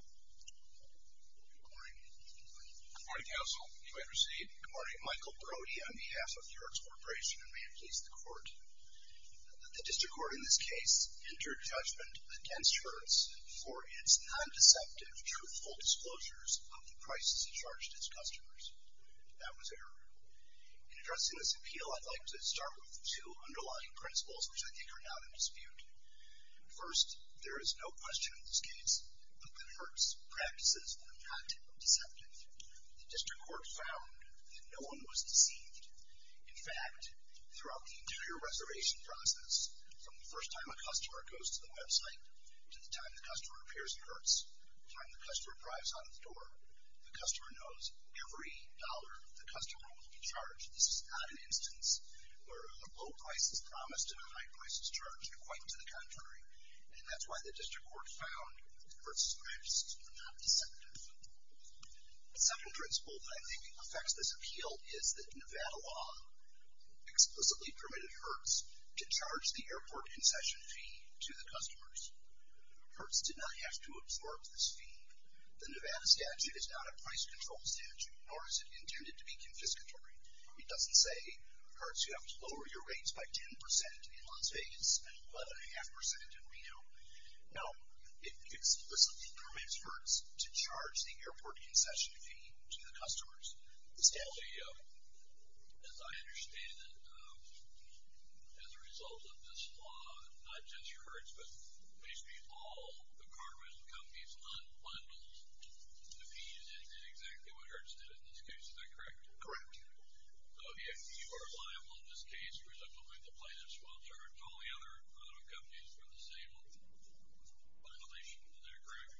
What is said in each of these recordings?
Good morning. Good morning, counsel. You may proceed. Good morning. Michael Brody. I'm the head of Hertz Corporation, and may it please the court. The district court in this case entered judgment against Hertz for its non-deceptive, truthful disclosures of the prices it charged its customers. That was error. In addressing this appeal, I'd like to start with two underlying principles, which I think are not in dispute. First, there is no question in this case that Hertz practices are not deceptive. The district court found that no one was deceived. In fact, throughout the entire reservation process, from the first time a customer goes to the website to the time the customer appears at Hertz, the time the customer drives out of the door, the customer knows every dollar the customer will be charged. This is not an instance where a low price is promised and a high price is charged, and quite to the contrary. And that's why the district court found Hertz practices were not deceptive. The second principle that I think affects this appeal is that Nevada law explicitly permitted Hertz to charge the airport concession fee to the customers. Hertz did not have to absorb this fee. The Nevada statute is not a price control statute, nor is it intended to be confiscatory. It doesn't say, Hertz, you have to lower your rates by 10% in Las Vegas, and what, a half percent in Reno. No. It explicitly permits Hertz to charge the airport concession fee to the customers. So the, as I understand it, as a result of this law, not just your Hertz, but basically all the car rental companies, not one will be defeated in exactly what Hertz did in this case. Is that correct? Correct. So if you are liable in this case, because I believe the plaintiffs will charge all the other car rental companies for the same violation, is that correct?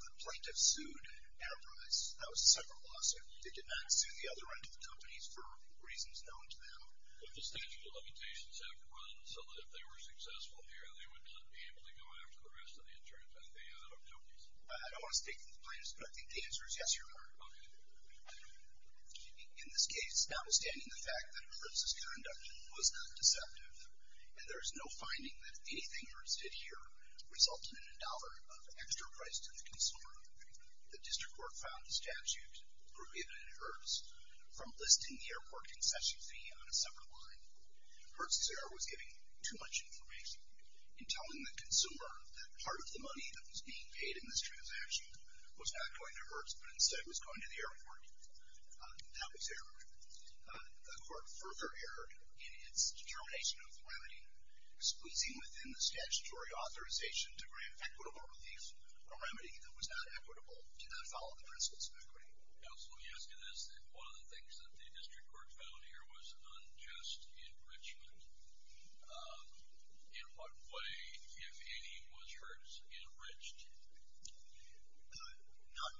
The plaintiffs sued at a price. That was a separate lawsuit. They did not sue the other rental companies for reasons known to them. But the statute of limitations had to run so that if they were successful here, they would not be able to go after the rest of the insurance at the car rental companies. I don't want to speak for the plaintiffs, but I think the answer is yes, Your Honor. Okay. In this case, notwithstanding the fact that Hertz's conduct was not deceptive, and there is no finding that anything Hertz did here resulted in a dollar of extra price to the consumer, the district court filed the statute approving it in Hertz from listing the airport concession fee on a separate line. Hertz's error was giving too much information. In telling the consumer that part of the money that was being paid in this airport, that was error. The court further erred in its determination of the remedy, squeezing within the statutory authorization to grant equitable relief, a remedy that was not equitable, did not follow the principles of equity. Counsel, you ask me this, that one of the things that the district court found here was unjust enrichment. In what way, if any, was Hertz enriched? None.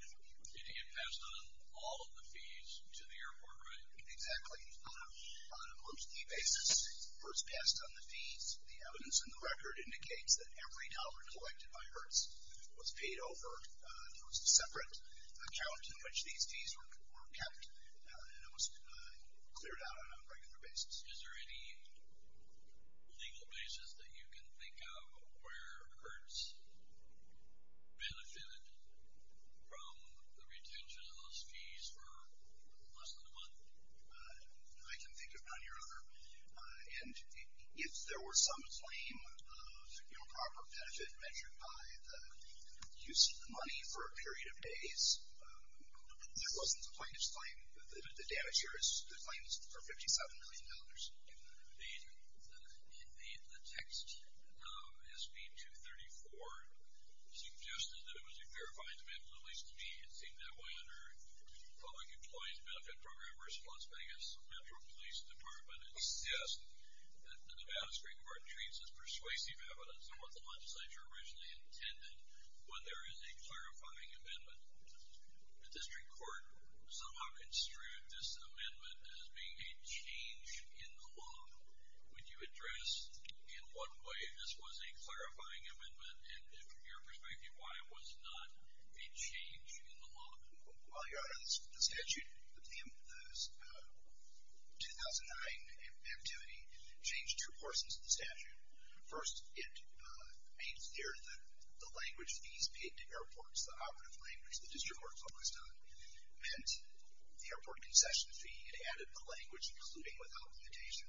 It passed on all of the fees to the airport, right? Exactly. On a most key basis, Hertz passed on the fees. The evidence in the record indicates that every dollar collected by Hertz was paid over. There was a separate account in which these fees were kept, and it was cleared out on a regular basis. Is there any legal basis that you can think of where Hertz benefited from the retention of those fees for less than a month? I can think of none here, and if there were some claim of proper benefit measured by the use of the money for a period of days, that wasn't the plaintiff's claim. The damage here is the claims for $57 million. The text of SB 234 suggested that it was a clarifying amendment, at least to me it seemed that way. Under public employee's benefit program responsibility, I guess the federal police department insists that the Nevada Supreme Court treats this persuasive evidence in what the legislature originally intended when there is a clarifying amendment. The district court somehow construed this amendment as being a change in the law. Would you address in what way this was a clarifying amendment, and from your perspective, why it was not a change in the law? While you're on the statute, the 2009 activity changed two portions of the statute. First, it made clear that the language fees paid to airports, the operative language the district court focused on, meant the airport concession fee. It added the language, including without limitation,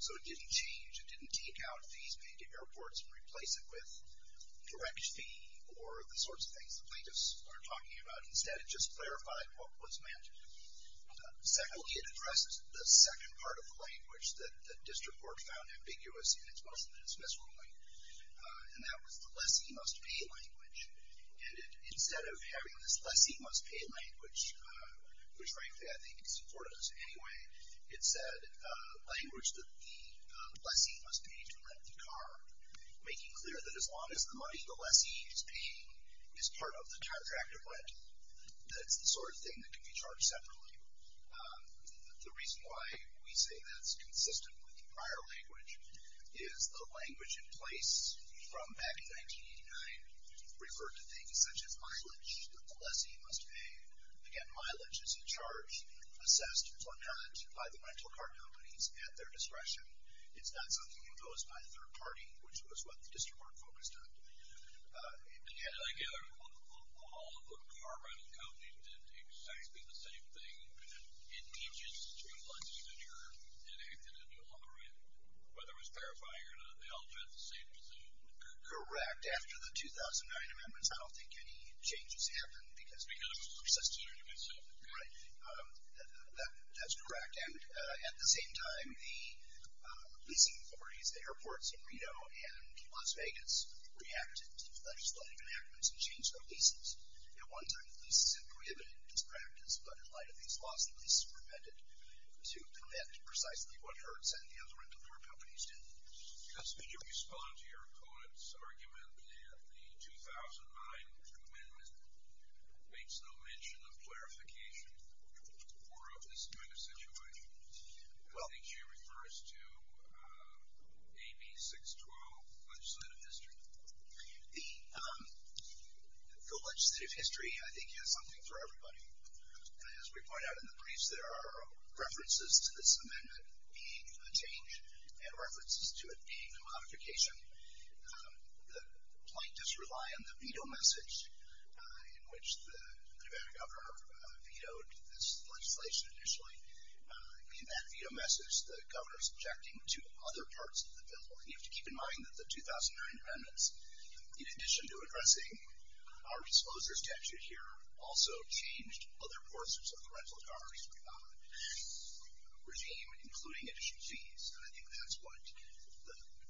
so it didn't change. It didn't take out fees paid to airports and replace it with direct fee or the sorts of things the plaintiffs are talking about. Instead, it just clarified what was mentioned. Secondly, it addresses the second part of the language that the district court found ambiguous in its Muslim dismissal ruling, and that was the lessee must be language. And instead of having this lessee must pay language, which frankly I think is important to us anyway, it said language that the lessee must pay to rent the car, making clear that as long as the money the lessee is paying is part of the contract of rent, that's the sort of thing that can be charged separately. The reason why we say that's consistent with the prior language is the language in place from back in 1989 referred to things such as mileage that the lessee must pay. Again, mileage is in charge, assessed, if not not, by the rental car companies at their discretion. It's not something imposed by a third party, which was what the district court focused on. And again, all the car rental companies did exactly the same thing. It teaches to a lessee that you're in a new law, right? Whether it was clarifying or not, they all did the same thing. Correct. After the 2009 amendments, I don't think any changes happened because we kind of persisted. Right. That's correct. And at the same time, the leasing authorities, the airports in Reno and Las Vegas reacted to legislative amendments and changed their leases. At one time the leases had prohibited this practice, but in light of these laws the leases were amended to commit precisely what the rental car companies did. Counsel, can you respond to your opponent's argument that the 2009 amendment makes no mention of clarification or of this kind of situation? I think you refer us to AB 612, legislative history. The legislative history, I think, has something for everybody. And as we point out in the briefs, there are references to this amendment being a change and references to it being a modification. The plaintiffs rely on the veto message in which the Nevada governor vetoed this legislation initially. In that veto message, the governor is objecting to other parts of the bill. And you have to keep in mind that the 2009 amendments, in addition to addressing our disposer's statute here, also changed other portions of the rental car's regime, including additional fees. And I think that's what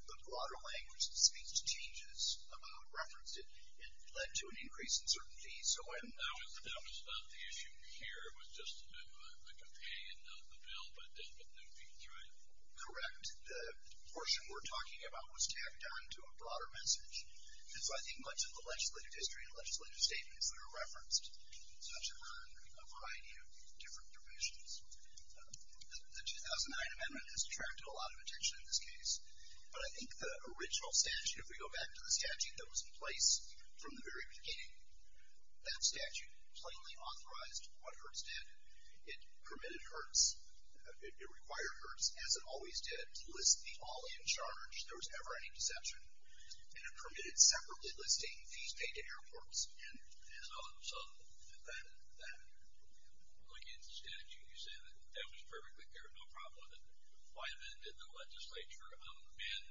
the broader language that speaks to changes about reference, it led to an increase in certain fees. So I'm not. That was not the issue here. It was just a bit of a campaign, not the bill, but the veto. Correct. The portion we're talking about was tacked on to a broader message. And so I think much of the legislative history and legislative statements that are referenced touch on a variety of different provisions. The 2009 amendment has attracted a lot of attention in this case. But I think the original statute, if we go back to the statute that was in place from the very beginning, that statute plainly authorized what Hertz did. It permitted Hertz, it required Hertz, as it always did, to list the all in charge, if there was ever any deception. And it permitted separately listing fees paid to airports and others. And that. In the statute, you say that that was perfectly fair, no problem with it. Why then did the legislature amend,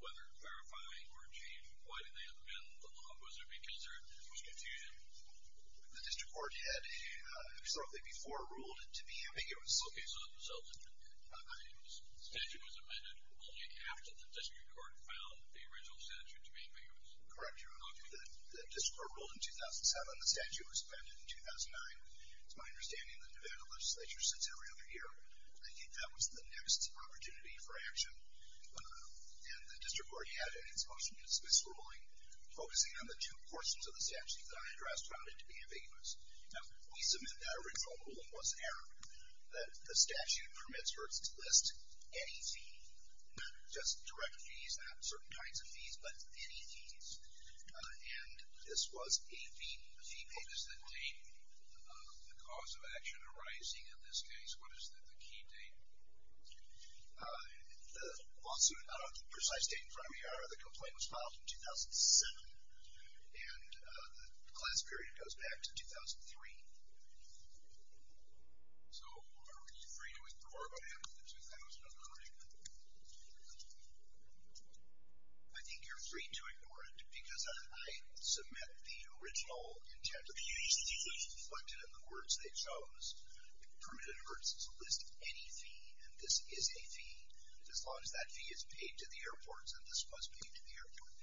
whether clarifying or changing, why did they amend the law? Was it because there was confusion? The district court had historically before ruled to be ambiguous. OK, so the statute was amended only after the district court found the original statute to be ambiguous. Correct, your honor. The district court ruled in 2007. The statute was amended in 2009. It's my understanding the Nevada legislature sits every other year. I think that was the next opportunity for action. And the district court had, in its motion, a dismissal ruling focusing on the two portions of the statute that I addressed found it to be ambiguous. Now, we submit that original ruling was error. That the statute permits Hertz to list any fee, not just direct fees, not certain kinds of fees, but any fees. And this was a fee. What is the date of the cause of action arising in this case? What is the key date? The lawsuit, I don't have the precise date in front of me. The complaint was filed in 2007. And the class period goes back to 2003. So are we free to ignore it after 2003? I think you're free to ignore it. Because I submit the original intent. The huge fee was reflected in the words they chose. It permitted Hertz to list any fee. And this is a fee. As long as that fee is paid to the airports, and this was paid to the airport.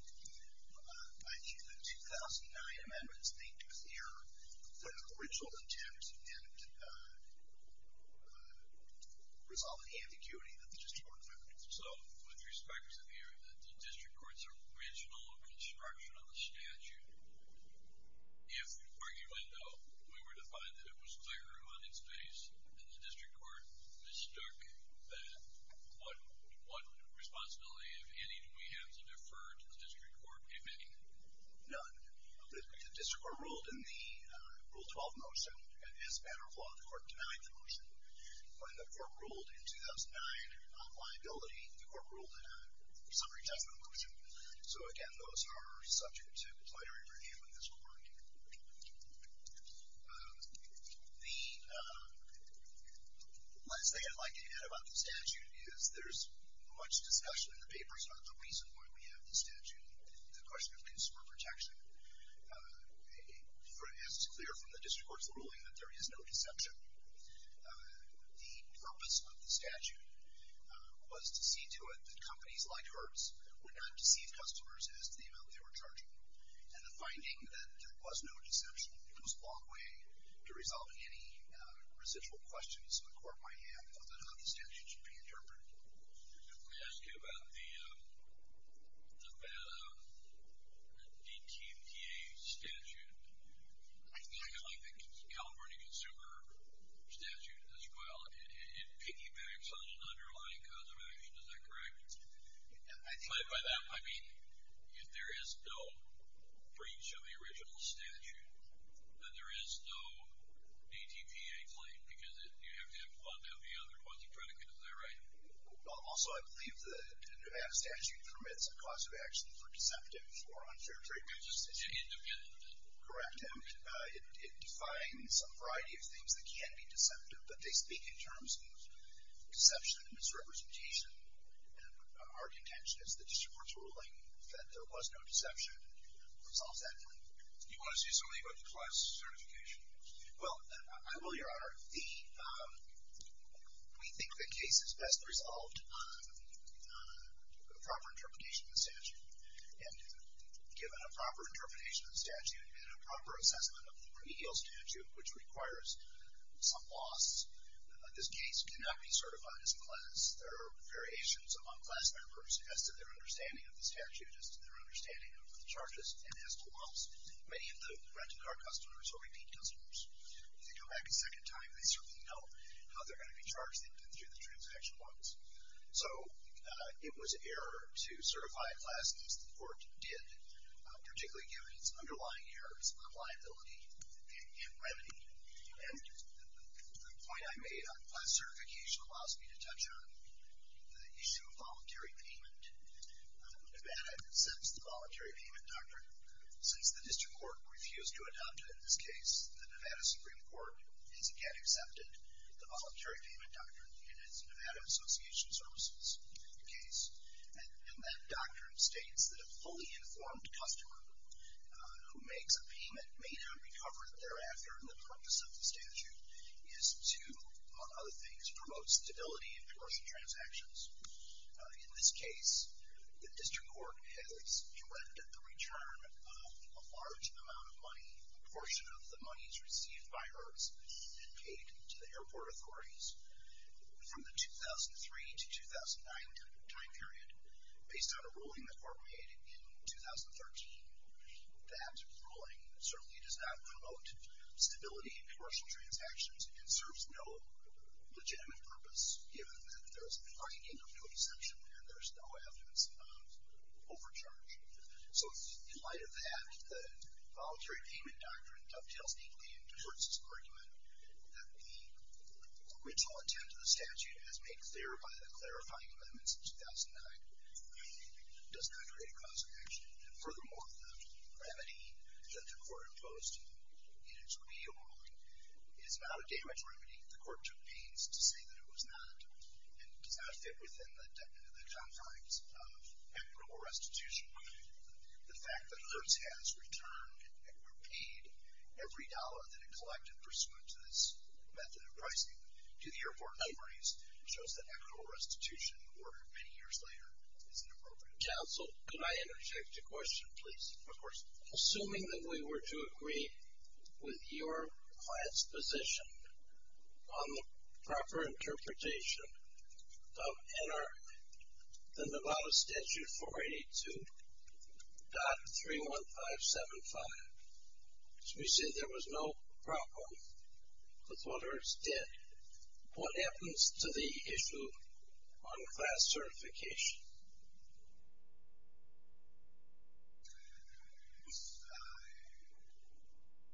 I think the 2009 amendments make clear the original intent and resolve the ambiguity that the district court committed. So, with respect to the district court's original construction of the statute, if, arguably, though, we were to find that it was clear on its face and the district court mistook that, what responsibility, if any, do we have to defer to the district court in admitting it? None. The district court ruled in the Rule 12 motion, and as a matter of law, the court denied the motion. When the court ruled in 2009 on liability, the court ruled in a summary judgment motion. So, again, those are subject to plenary review in this court. The last thing I'd like to add about the statute is there's much discussion in the papers about the reason why we have the statute, the question of consumer protection. It is clear from the district court's ruling that there is no deception. The purpose of the statute was to see to it that companies like Hertz would not deceive customers as to the amount they were charging. And the finding that there was no deception goes a long way to resolving any residual questions the court might have about how the statute should be interpreted. Let me ask you about the DTMDA statute. I think I like the California Consumer Statute as well. It piggybacks on an underlying cause of action. Is that correct? By that, I mean if there is no breach of the original statute, then there is no DTPA claim, because you have to have one to have the other quasi-predicate. Is that right? Also, I believe the statute permits a cause of action for deceptive or unfair treatment. It's independent, isn't it? Correct. It defines a variety of things that can be deceptive, but they speak in terms of deception and misrepresentation and our contention is that this court's ruling that there was no deception resolves that claim. Do you want to say something about the class certification? Well, I will, Your Honor. We think the case is best resolved on a proper interpretation of the statute. And given a proper interpretation of the statute and a proper assessment of the remedial statute, which requires some loss, this case cannot be certified as a class. There are variations among class members as to their understanding of the statute, as to their understanding of the charges, and as to loss. Many of the rental car customers are repeat customers. If you go back a second time, they certainly know how they're going to be charged through the transaction laws. So it was error to certify a class as the court did, particularly given its underlying errors of liability and remedy. And the point I made on class certification allows me to touch on the issue of voluntary payment. Nevada accepts the Voluntary Payment Doctrine. Since the district court refused to adopt it in this case, the Nevada Supreme Court has again accepted the Voluntary Payment Doctrine in its Nevada Association Services case. And that doctrine states that a fully informed customer who makes a payment may not recover it thereafter, and the purpose of the statute is to, among other things, promote stability in commercial transactions. In this case, the district court has directed the return of a large amount of money, a portion of the monies received by hers and paid to the airport authorities. From the 2003 to 2009 time period, based on a ruling the court made in 2013, that ruling certainly does not promote stability in commercial transactions and serves no legitimate purpose, given that there's an argument of no deception and there's no evidence of overcharging. So in light of that, the Voluntary Payment Doctrine dovetails deeply into Kurtz's argument that the original intent of the statute, as made clear by the clarifying amendments in 2009, does not create a cause for action. And furthermore, the remedy that the court imposed in its reordering is not a damage remedy. The court took pains to say that it was not and does not fit within the confines of equitable restitution. The fact that Liz has returned and repaid every dollar that it collected pursuant to this method of pricing to the airport authorities shows that equitable restitution, ordered many years later, is inappropriate. Counsel, could I interject a question, please? Of course. Assuming that we were to agree with your class position on the proper interpretation of NR, the Nevada Statute 482.31575, which we see there was no problem with what Ernst did, what happens to the issue on class certification?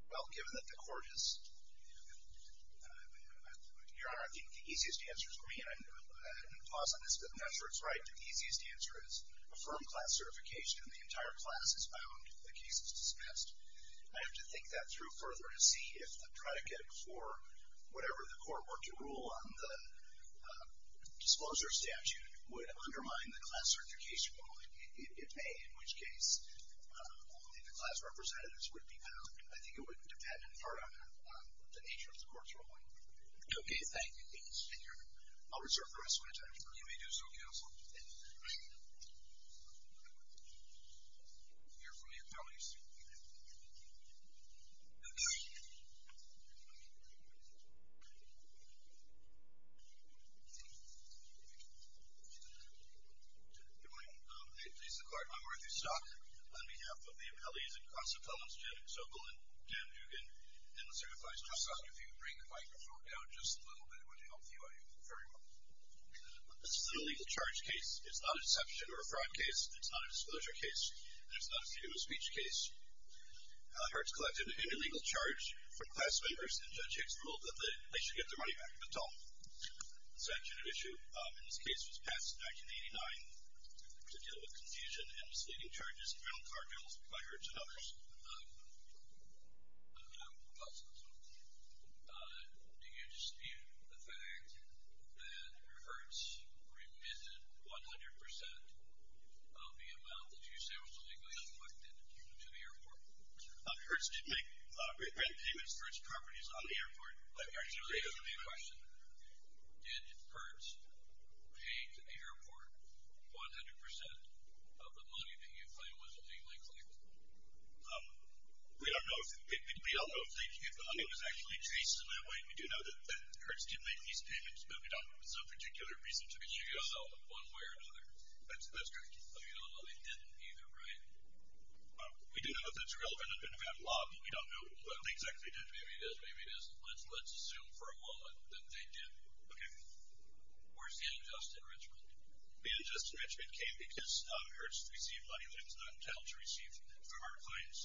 Well, given that the court has, Your Honor, I think the easiest answer is for me, and I'm going to pause on this, but I'm not sure it's right, but the easiest answer is affirm class certification and the entire class is bound if the case is dismissed. I have to think that through further to see if a predicate for whatever the court were to rule on the disclosure statute would undermine the class certification rule. If, A, in which case only the class representatives would be bound, I think it would depend on the nature of the court's ruling. Okay, thank you. I'll reserve the rest of my time for you. You may do so, Counsel. Thank you very much. Hear from your colleagues. Yes. Good morning. I'm Arthur Stock. On behalf of the appellees and constables, Jim Zobel and Dan Dugan, and the certified trustee, if you could bring the microphone down just a little bit, it would help the OIU very much. This is a legal charge case. It's not a deception or a fraud case. It's not a disclosure case. There's nothing to do with a speech case. Hertz collected an illegal charge from class members, and Judge Hicks ruled that they should get their money back if at all. The statute of issue in this case was passed in 1989 to deal with confusion and misleading charges in rental car deals by Hertz and others. Do you dispute the fact that Hertz remitted 100% of the amount that you say was illegally collected to the airport? Hertz did make rent payments for its properties on the airport. Let me ask you a question. Did Hertz pay to the airport 100% of the money that you claim was illegally collected? We don't know. We don't know if the money was actually traced in that way. We do know that Hertz did make these payments, but we don't have some particular reason to be sure. She goes out one way or another. That's correct. I mean, although they didn't either, right? We do know that it's irrelevant. It would have been a bad lob, but we don't know. But they exactly did. Maybe it is, maybe it isn't. Let's assume for a moment that they did. OK. Where's the unjust enrichment? The unjust enrichment came because Hertz received money that it was not entitled to receive from our clients.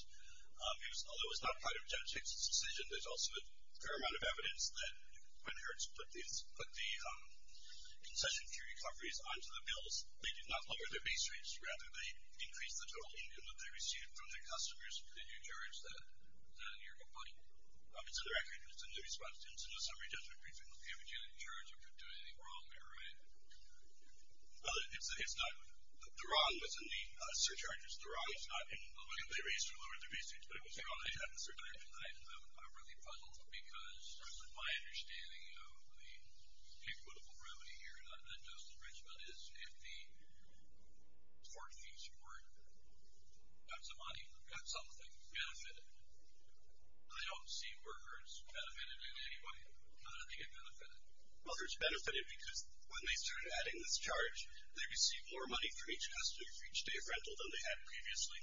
Although it was not part of Judge Hicks' decision, there's also a fair amount of evidence that when Hertz put the concession queue recoveries onto the bills, they did not lower their base rates. Rather, they increased the total income that they received from their customers. Did you charge that in your complaint? It's in the record. It's in the response to incident summary judgment briefing. OK, but you didn't charge. You couldn't do anything wrong there, right? Well, it's not. The wrong was in the surcharges. The wrong is not in the way that they raised or lowered their base rates, but it was wrong. I'm really puzzled because, certainly my understanding of the equitable remedy here, not just enrichment, is if the tort fees were, that's a money, that's something, benefited. I don't see where Hertz benefited in any way. How did they get benefited? Well, Hertz benefited because when they started adding this charge, they received more money for each day of rental than they had previously.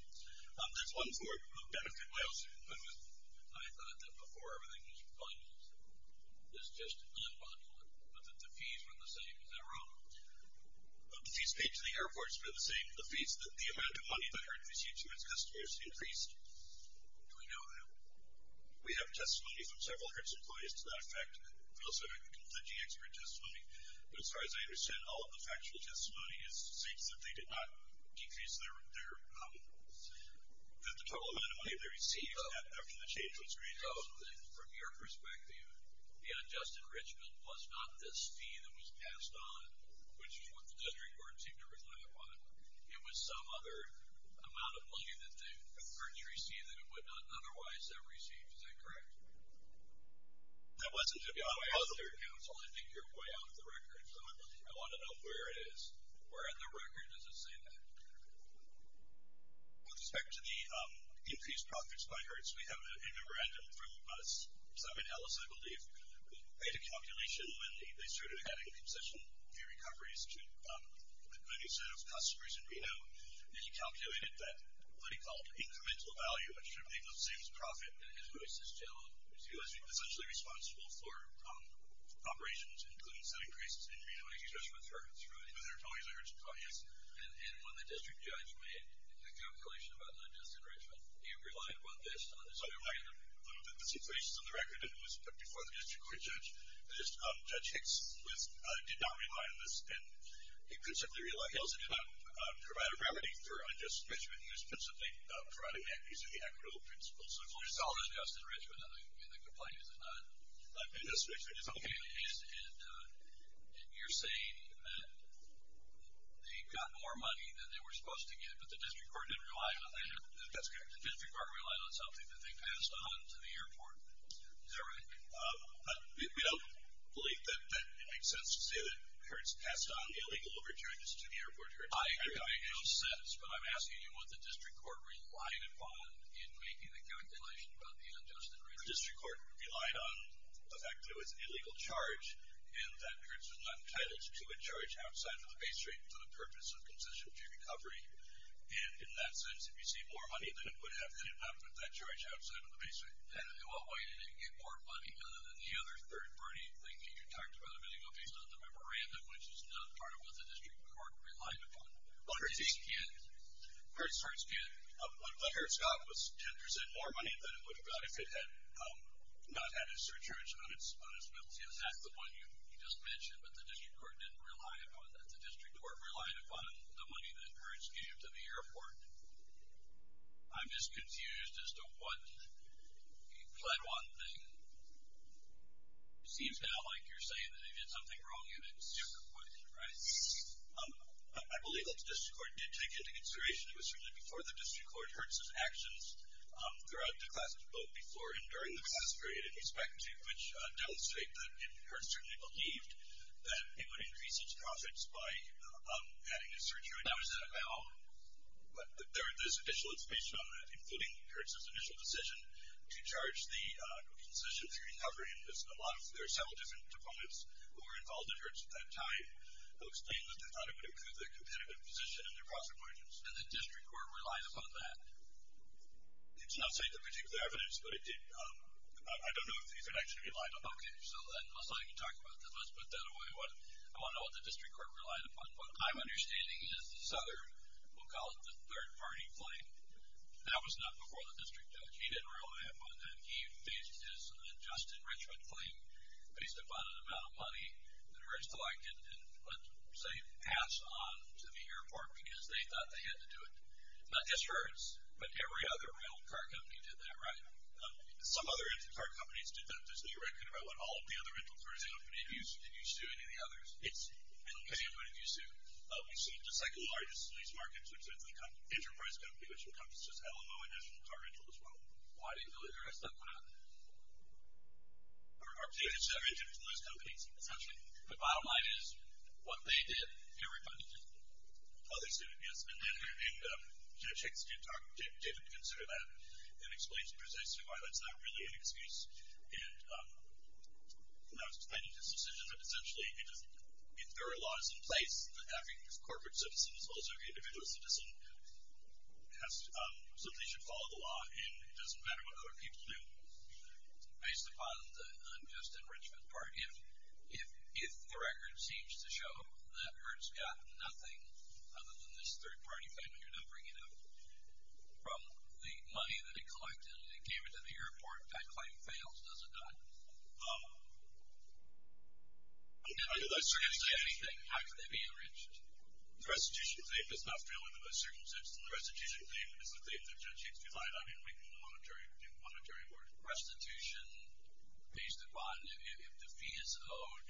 There's one more benefit. I thought that before everything was fined. It's just un-fined, but that the fees were the same. Is that wrong? The fees paid to the airports were the same. The fees, the amount of money that Hertz received from its customers increased. Do we know that? We have testimony from several Hertz employees to that effect. We also have a contingency expert testimony. But as far as I understand, all of the factual testimony states that they did not decrease their, that the total amount of money they received after the change was made. So, from your perspective, the unjust enrichment was not this fee that was passed on, which is what the district court seemed to rely upon. It was some other amount of money that Hertz received that it would not otherwise have received. Is that correct? That wasn't. You're way out of the record. I want to know where it is. Where in the record does it say that? With respect to the increased profits by Hertz, we have a memorandum from Simon Ellis, I believe, who made a calculation when they started adding concession fee recoveries to a new set of customers in Reno. And he calculated that what he called incremental value, which should be the same as profit, and his voice is still essentially responsible for operations, including setting prices in Reno. He's a judge with Hertz, right? But there are totally others. Oh, yes. And when the district judge made the calculation about unjust enrichment, he relied on this. So the situation's on the record, and it was before the district court judge. Judge Hicks did not rely on this, and he principally relied on it. He also did not provide a remedy for unjust enrichment. He was principally providing that using the equitable principles. So if there's solid unjust enrichment, I mean, the complaint is that not unjust enrichment is okay. And you're saying that they got more money than they were supposed to get, but the district court didn't rely on that? That's correct. The district court relied on something that they passed on to the airport. Is that right? We don't believe that it makes sense to say that Hertz passed on the illegal overcharges to the airport. It makes no sense, but I'm asking you what the district court relied upon in making the calculation about the unjust enrichment. The district court relied on the fact that it was an illegal charge and that Hertz was not entitled to a charge outside of the base rate for the purpose of concession to recovery. And in that sense, if you see more money than it would have, they did not put that charge outside of the base rate. And in what way did it get more money than the other third-party thing that you talked about a minute ago based on the memorandum, which is not part of what the district court relied upon? Hertz can't. Hertz can't. But HertzCop was 10% more money than it would have got if it had not had its surcharge on its bill. See, that's the one you just mentioned, but the district court didn't rely upon that. The district court relied upon the money that Hertz gave to the airport. I'm just confused as to what the Pledwine thing. It seems kind of like you're saying that if you did something wrong, you did it super quick, right? I believe that the district court did take into consideration, it was certainly before the district court, Hertz's actions throughout the class of both before and during the recess period, in respect to which demonstrate that Hertz certainly believed that it would increase its profits by adding a surcharge. Now, is that at all? There's additional information on that, including Hertz's initial decision to charge the decision through hovering. There are several different proponents who were involved at Hertz at that time who explained that they thought it would improve their competitive position in their prosecutions. And the district court relied upon that? It's not stated in particular evidence, but it did. I don't know if these are actually relied upon. Okay. So, unless I can talk about this, let's put that away. I want to know what the district court relied upon. What I'm understanding is Southern will call it the third-party claim. That was not before the district judge. He didn't rely upon that. He based his unjust enrichment claim based upon an amount of money that Hertz collected and, let's say, passed on to the airport, because they thought they had to do it. Not just Hertz, but every other real car company did that, right? Some other car companies did that. There's a new record about all of the other rental cars. I don't know if any of you sued any of the others. I don't know if anyone of you sued. We sued the second-largest lease market, which is an enterprise company, which becomes just LMO International Car Rental, as well. Why do you feel interested in that? Are people interested in those companies, essentially? The bottom line is, what they did, everybody did. Others didn't, yes. And Judge Hicks didn't consider that an explanation, because I assume that's not really an excuse. And I was defending his decision, but essentially, if there are laws in place, having corporate citizens, also individual citizens, simply should follow the law, and it doesn't matter what other people do, based upon the unjust enrichment part. If the record seems to show that Hertz got nothing, other than this third-party payment you're now bringing out, from the money that it collected, and it came into the airport, that claim fails, does it not? If they're going to say anything, how can they be enriched? The restitution claim does not fail under those circumstances. The restitution claim is the claim that Judge Hicks defied. I mean, we can do monetary work. Restitution based upon if the fee is owed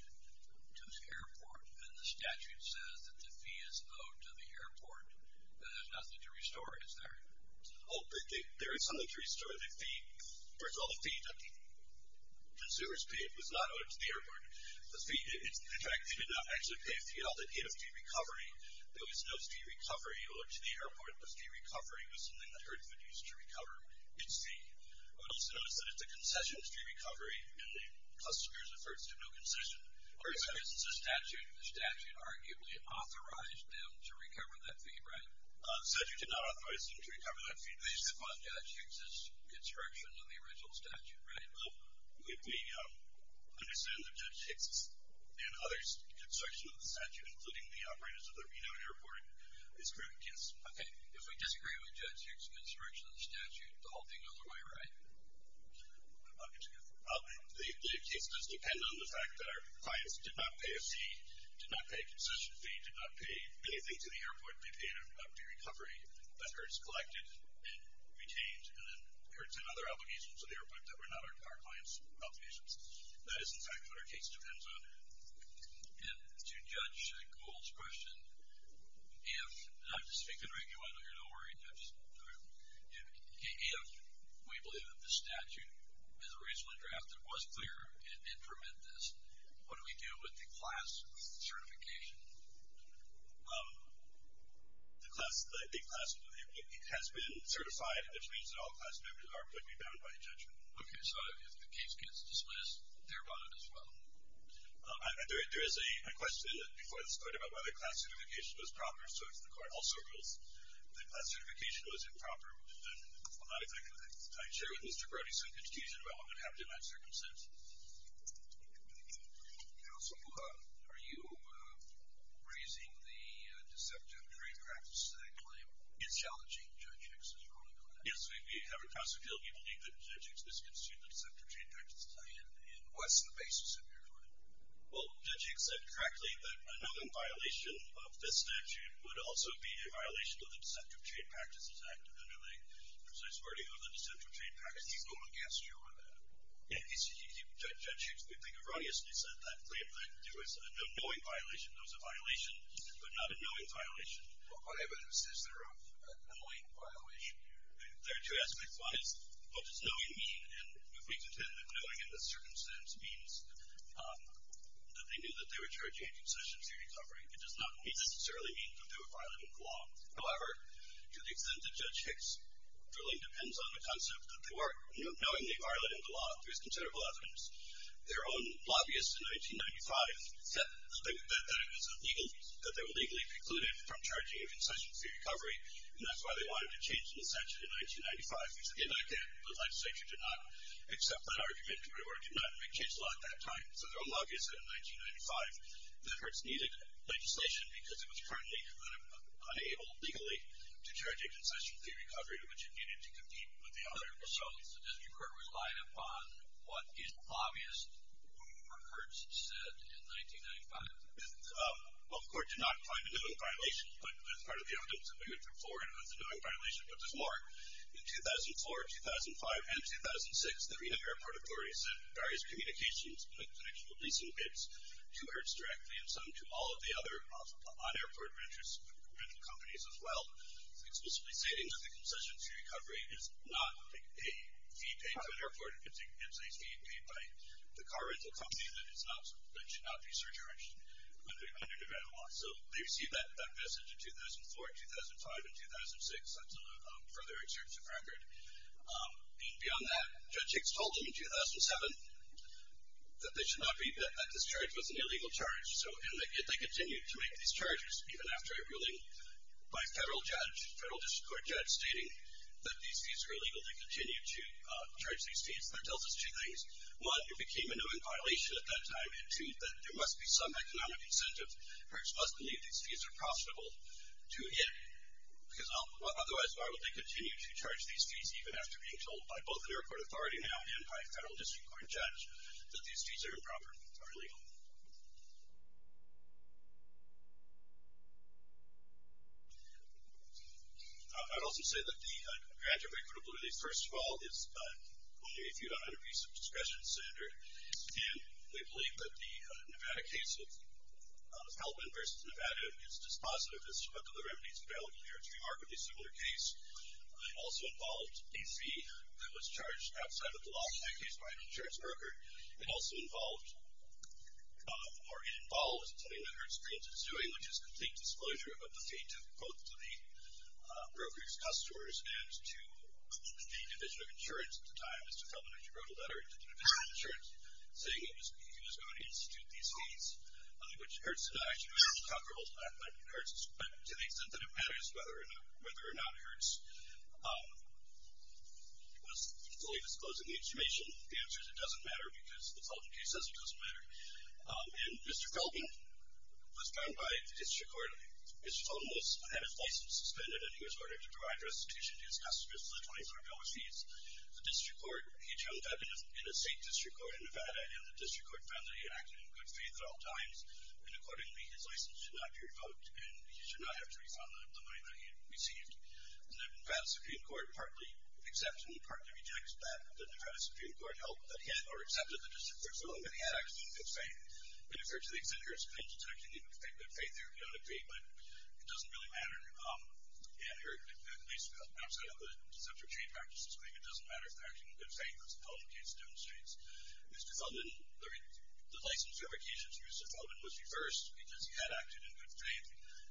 to the airport, and the statute says that the fee is owed to the airport, then there's nothing to restore, is there? Oh, there is something to restore. First of all, the fee that consumers paid was not owed to the airport. In fact, they did not actually pay a fee. All they paid was fee recovery. There was no fee recovery owed to the airport. The fee recovery was something that Hertz would use to recover its fee. I would also notice that if the concession is due recovery, and the customer is referred to no concession, or if, for instance, it's a statute, the statute arguably authorized them to recover that fee, right? The statute did not authorize them to recover that fee. But you said Judge Hicks' construction on the original statute, right? If we understand that Judge Hicks' and others' construction of the statute, including the operators of the Reno airport, is correct, yes. Okay, if we disagree with Judge Hicks' construction of the statute, does that make the whole thing the other way around? The case does depend on the fact that our clients did not pay a fee, did not pay a concession fee, did not pay anything to the airport. They paid a fee recovery that Hertz collected and retained, and then Hertz and other obligations to the airport that were not our clients' obligations. That is, in fact, what our case depends on. And to Judge Gould's question, if – and I'm just speaking regularly here, don't worry. If we believe that the statute is a reasonable draft that was clear and permit this, what do we do with the class certification? The class – it has been certified, which means that all class members are publicly bound by injunction. Okay, so if the case gets dismissed, they're bound as well. There is a question before this court about whether class certification is proper, so if the court also rules that class certification was improper, would that not affect the case? I share with Mr. Brody some confusion about what would happen in that circumstance. Counsel, are you raising the deceptive trade practice that I claim is challenging Judge Hicks' ruling on that? Yes, we have it. Counsel, do you believe that Judge Hicks misconstrued the deceptive trade practice? And what's the basis of your ruling? Well, Judge Hicks said correctly that another violation of this statute would also be a violation of the deceptive trade practice. It's active under the precise wording of the deceptive trade practice. Did he go against you on that? Yes. Judge Hicks, we think, erroneously said that there was a knowing violation. There was a violation, but not a knowing violation. Well, what evidence is there of a knowing violation? There are two aspects. One is, what does knowing mean? And if we consider that knowing in this circumstance means that they knew that they were charging a concession fee recovery, it does not necessarily mean to do a violating of the law. However, to the extent that Judge Hicks' ruling depends on the concept that they were knowingly violating the law, there's considerable evidence. Their own lobbyist in 1995 said that it was illegal, that they were legally precluded from charging a concession fee recovery, and that's why they wanted to change the statute in 1995. They said they like it, but the legislature did not accept that argument, or did not make change to the law at that time. So their own lobbyist said in 1995 that Hertz needed legislation because it was currently unable legally to charge a concession fee recovery, which it needed to compete with the other. So does your Court rely upon what is obvious or Hertz said in 1995? Well, the Court did not find a knowing violation, but there's part of the evidence that we would implore anyone with a knowing violation. But there's more. In 2004, 2005, and 2006, the Reno Airport Authority said in various communications that they were releasing bids to Hertz directly, and some to all of the other on-airport rental companies as well, explicitly stating that the concession fee recovery is not a fee paid to an airport. It's a fee paid by the car rental company that should not be surcharged under Nevada law. So they received that message in 2004, 2005, and 2006. That's a further extensive record. Beyond that, Judge Hicks told them in 2007 that they should not be that this charge was an illegal charge. And they continued to make these charges, even after a ruling by a federal judge, a federal district court judge stating that these fees were illegal to continue to charge these fees. That tells us two things. One, it became a knowing violation at that time. Two, that there must be some economic incentive. Hertz must believe these fees are profitable. Because otherwise, why would they continue to charge these fees, even after being told by both the airport authority now and by a federal district court judge that these fees are improper, are illegal? I'd also say that the grant of equitable release, first of all, is only a few hundred pieces of discretion standard. And they believe that the Nevada case of Hellman versus Nevada is dispositive as to what other remedies available there to remark with a similar case. It also involved a fee that was charged outside of the law, in that case by an insurance broker. It also involved, or involved, something that Hertz Grants is doing, which is complete disclosure of a defective quote to the broker's customers and to the division of insurance at the time. Mr. Hellman, as you wrote a letter to the division of insurance, saying he was going to institute these fees, which Hertz did not actually make comparable to that of Hertz, but to the extent that it matters whether or not Hertz was fully disclosing the information, the answer is it doesn't matter, because the Felton case doesn't matter. And Mr. Felton was found by the district court. Mr. Felton had his license suspended, and he was ordered to provide restitution to his customers for the 23rd hour fees. The district court, he turned up in a state district court in Nevada, and the district court found that he had acted in good faith at all times, and accordingly his license should not be revoked and he should not have to refund the money that he had received. And the Nevada Supreme Court partly accepts and partly rejects that, but the Nevada Supreme Court held that he had or accepted the district court's ruling that he had acted in good faith. And if there are two things in here, it's not that he acted in good faith or he had a fee, but it doesn't really matter, at least outside of the deceptive chain practices, it doesn't matter if he acted in good faith, as the Felton case demonstrates. Mr. Felton, the license revocation to Mr. Felton was reversed because he had acted in good faith,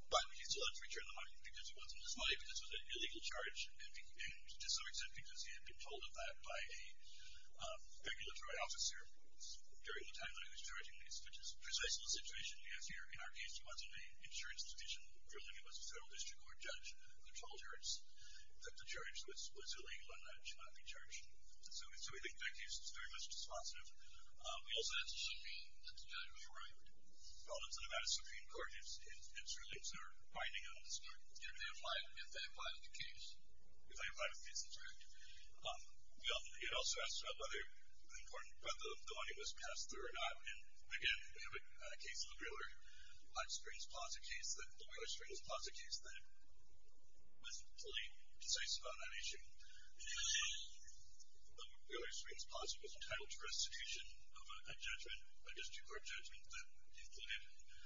but he still had to return the money because it wasn't his money, because it was an illegal charge, and to some extent because he had been told of that by a regulatory officer during the time that he was charging this, which is precisely the situation we have here. In our case, he wasn't an insurance division. Earlier he was a federal district court judge, and they told her that the charge was illegal and that it should not be charged. So we think that case is very much responsive. We also had some problems in Nevada Supreme Court in certain things that are binding on this court. If they apply to the case. If they apply to the case, that's right. We also asked about whether the money was passed through or not, and again, we have a case, the Wheeler-Springs Plaza case, the Wheeler-Springs Plaza case that was completely concise about that issue. The Wheeler-Springs Plaza was entitled to restitution of a judgment, a district court judgment that included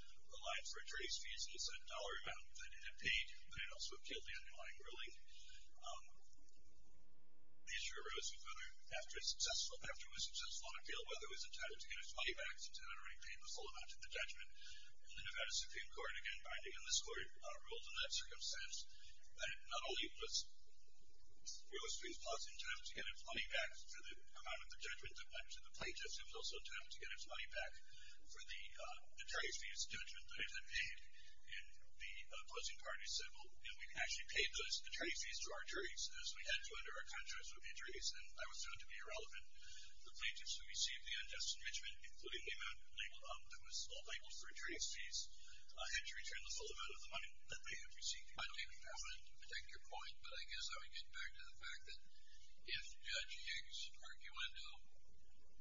a line for a trace fees and a dollar amount that it had paid, but it also appealed the underlying ruling. The issue arose after it was successful on appeal, whether it was entitled to get its money back, since it had already paid the full amount of the judgment, and the Nevada Supreme Court, again, binding on this court, ruled in that circumstance that not only was Wheeler-Springs Plaza entitled to get its money back for the amount of the judgment, but the plaintiff was also entitled to get its money back for the trace fees judgment that it had paid. And the opposing parties said, well, you know, we can actually pay those trace fees to our juries, as we had to under our contract with injuries, and that was found to be irrelevant. The plaintiffs who received the unjust impeachment, including the amount that was all labeled for trace fees, had to return us a little bit of the money that they had received. I don't even have a particular point, but I guess I would get back to the fact that if Judge Higgs' argument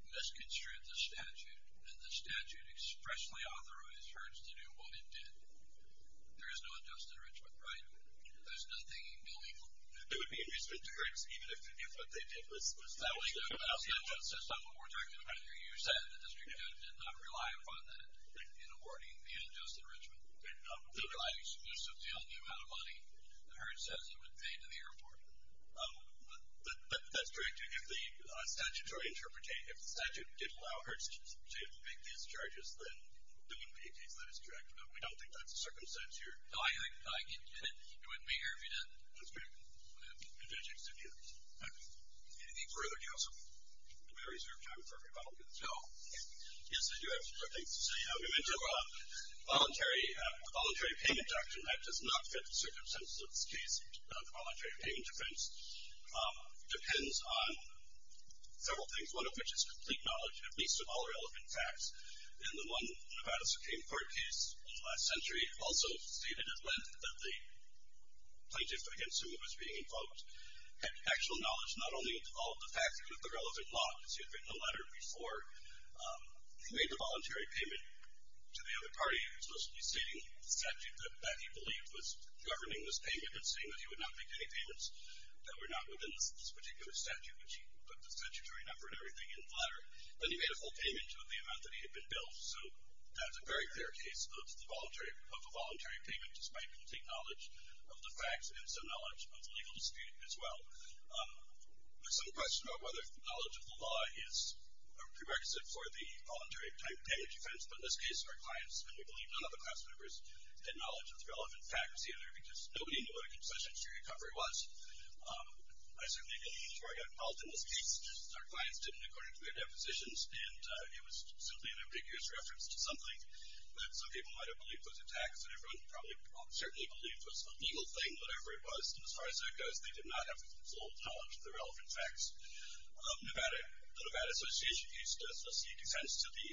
misconstrued the statute, and the statute expressly authorized herds to do what it did, there is no unjust impeachment, right? There's nothing illegal. It would be an injustice to herds, even if what they did was... That's not what we're talking about here. You said the district judge did not rely upon that in awarding the unjust enrichment. He relied exclusively on the amount of money that herds said he would pay to the airport. But that's correct, too. If the statute did allow herds to make these charges, then it would be a case that is correct. No, we don't think that's the circumstance here. No, I get it. It wouldn't be here if you didn't. That's correct. And Judge Higgs didn't. Okay. Anything further, counsel? We have reserved time for a rebuttal. No. Yes, I do have a quick thing to say. We went to a voluntary payment doctrine. That does not fit the circumstances of this case. Voluntary payment depends on several things, one of which is complete knowledge, at least of all relevant facts. In the one Nevada Supreme Court case in the last century, also stated at length that the plaintiff, I assume, was being, quote, actual knowledge not only of all the facts, but also of the relevant laws. He had written a letter before. He made the voluntary payment to the other party, supposedly stating the statute that he believed was governing this payment and saying that he would not make any payments that were not within this particular statute, which he put the statutory number and everything in the letter. Then he made a full payment of the amount that he had been billed. So that's a very fair case of a voluntary payment, despite complete knowledge of the facts and some knowledge of legal dispute as well. There's some question about whether knowledge of the law is a prerequisite for the voluntary payment defense. But in this case, our clients, and we believe none of the class members had knowledge of the relevant facts, either, because nobody knew what a concession to recovery was. I certainly didn't before I got involved in this case. Our clients didn't, according to their depositions, and it was simply an ambiguous reference to something that some people might have believed was a tax that everyone probably certainly believed was an illegal thing, whatever it was. And as far as that goes, they did not have full knowledge of the relevant facts. The Nevada Association used to seek defense to the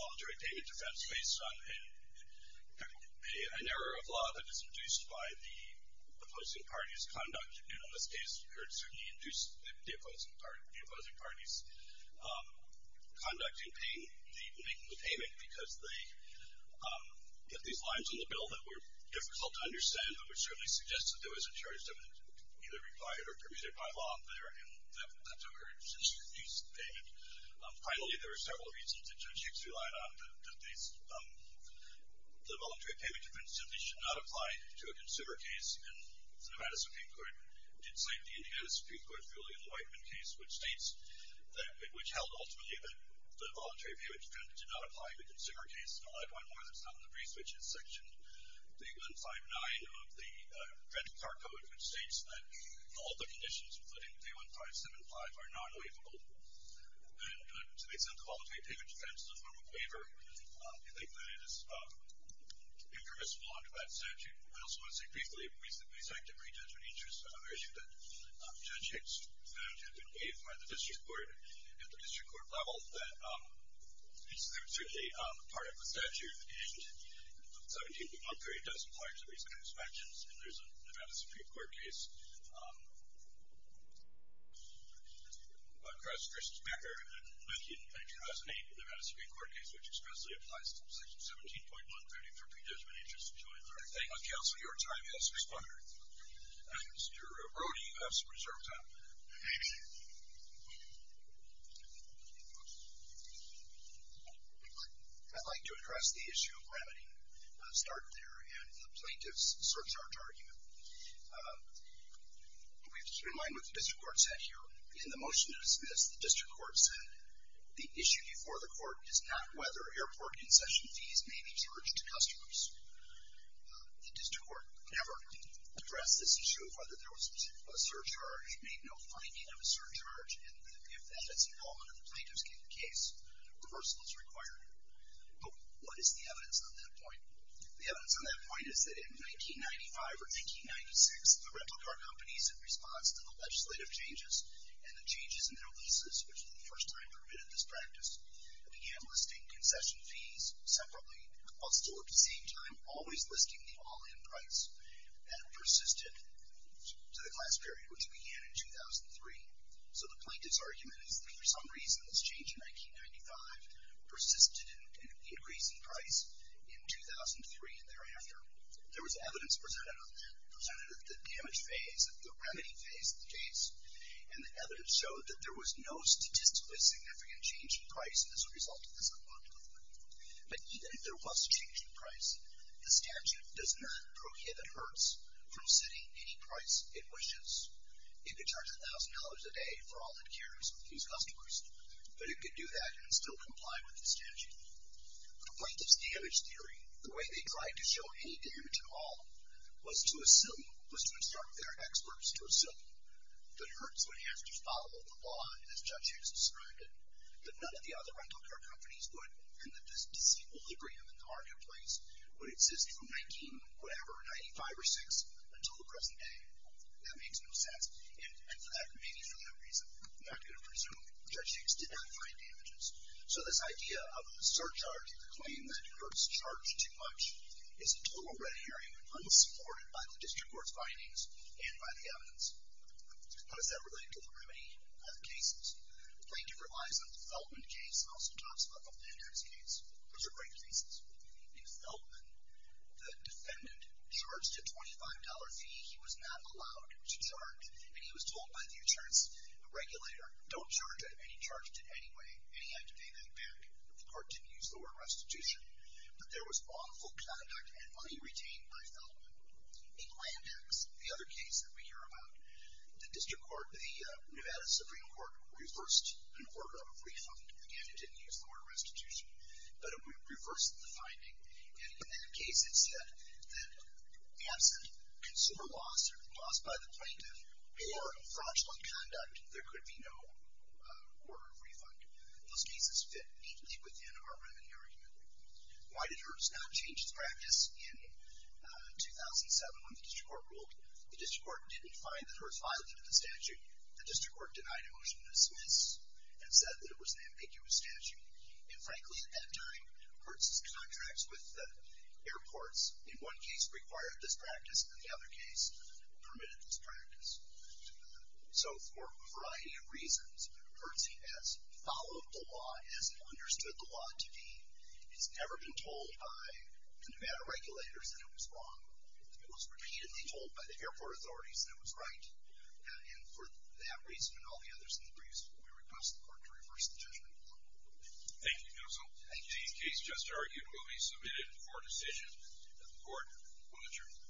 voluntary payment defense based on an error of law that is produced by the opposing party's conduct. And in this case, it certainly induced the opposing party's conduct in making the payment, which certainly suggests that there was a charge that was either required or produced by law there, and that's occurred since the payment. Finally, there were several reasons that Judge Hicks relied on, that the voluntary payment defense simply should not apply to a consumer case. And the Nevada Supreme Court did cite the Indiana Supreme Court ruling in the Whiteman case, which states that it would tell ultimately that the voluntary payment defense did not apply to a consumer case. And I'll add one more that's not in the pre-switches section. The 159 of the credit card code, which states that all the conditions, including the 1575, are non-waivable. And to make some quality of payment defense a form of waiver, I think that it is irreversible under that statute. I also want to say briefly, recently the Executive Re-judgment issued an issue that Judge Hicks found had been waived by the district court. At the district court level, it's certainly part of the statute, and the 17.1 period doesn't apply to these kinds of actions. And there's a Nevada Supreme Court case, Chris Becker, in 2008 in the Nevada Supreme Court case, which expressly applies to Section 17.1, voting for pre-judgment interest to be withdrawn. Thank you, counsel. Your time has expired. Mr. Brody, you have some reserve time. Thank you. I'd like to address the issue of remedy. I started there in the plaintiff's surcharge argument. We have to keep in mind what the district court said here. In the motion to dismiss, the district court said the issue before the court is not whether airport concession fees may be charged to customers. The district court never addressed this issue of whether there was a finding of a surcharge, and if that has evolved under the plaintiff's case, reversal is required. But what is the evidence on that point? The evidence on that point is that in 1995 or 1996, the rental car companies, in response to the legislative changes and the changes in their leases, which for the first time permitted this practice, began listing concession fees separately, while still at the same time always listing the all-in price, that persisted to the class period which began in 2003. So the plaintiff's argument is that for some reason this change in 1995 persisted in increasing price in 2003 and thereafter. There was evidence presented at the damage phase, at the remedy phase of the case, and the evidence showed that there was no statistically significant change in price as a result of this unlawful payment. But even if there was a change in price, the statute does not prohibit Hertz from setting any price it wishes. It could charge $1,000 a day for all it carries with these customers, but it could do that and still comply with the statute. For the plaintiff's damage theory, the way they tried to show any damage at all was to assume, was to instruct their experts to assume that Hertz would have to follow the law as Judge Hughes described it, that none of the other rental car companies would, and that this disequilibrium in the car companies would exist from 19-whatever, 95 or 96, until the present day. That makes no sense. And that may be for that reason. I'm not going to presume that Judge Hughes did not find damages. So this idea of surcharge, the claim that Hertz charged too much, is a total red herring, unsupported by the district court's findings and by the evidence. How does that relate to the remedy cases? The plaintiff relies on the Feltman case, and also talks about the Feltman case. Those are great cases. In Feltman, the defendant charged a $25 fee. He was not allowed to charge, and he was told by the insurance regulator, don't charge it, and he charged it anyway, and he had to pay that back. The court didn't use the word restitution. But there was awful conduct and money retained by Feltman. In Landex, the other case that we hear about, the district court, the Nevada Supreme Court, reversed an order of refund. Again, it didn't use the word restitution. But it reversed the finding. And in the cases that absent consumer loss, or loss by the plaintiff, or fraudulent conduct, there could be no order of refund. Those cases fit neatly within our remedy argument. Why did Hertz not change its practice in 2007, when the district court ruled? The district court didn't find that Hertz violated the statute. The district court denied a motion to dismiss and said that it was an ambiguous statute. And frankly, at that time, Hertz's contracts with airports, in one case, required this practice, and in the other case, permitted this practice. So for a variety of reasons, Hertz has followed the law as he understood the law to be. He's never been told by the Nevada regulators that it was wrong. It was repeatedly told by the airport authorities that it was right. And for that reason and all the others in the briefs, we request the court to reverse the judgment. Thank you, counsel. Thank you. The case just argued will be submitted for decision. The court will adjourn.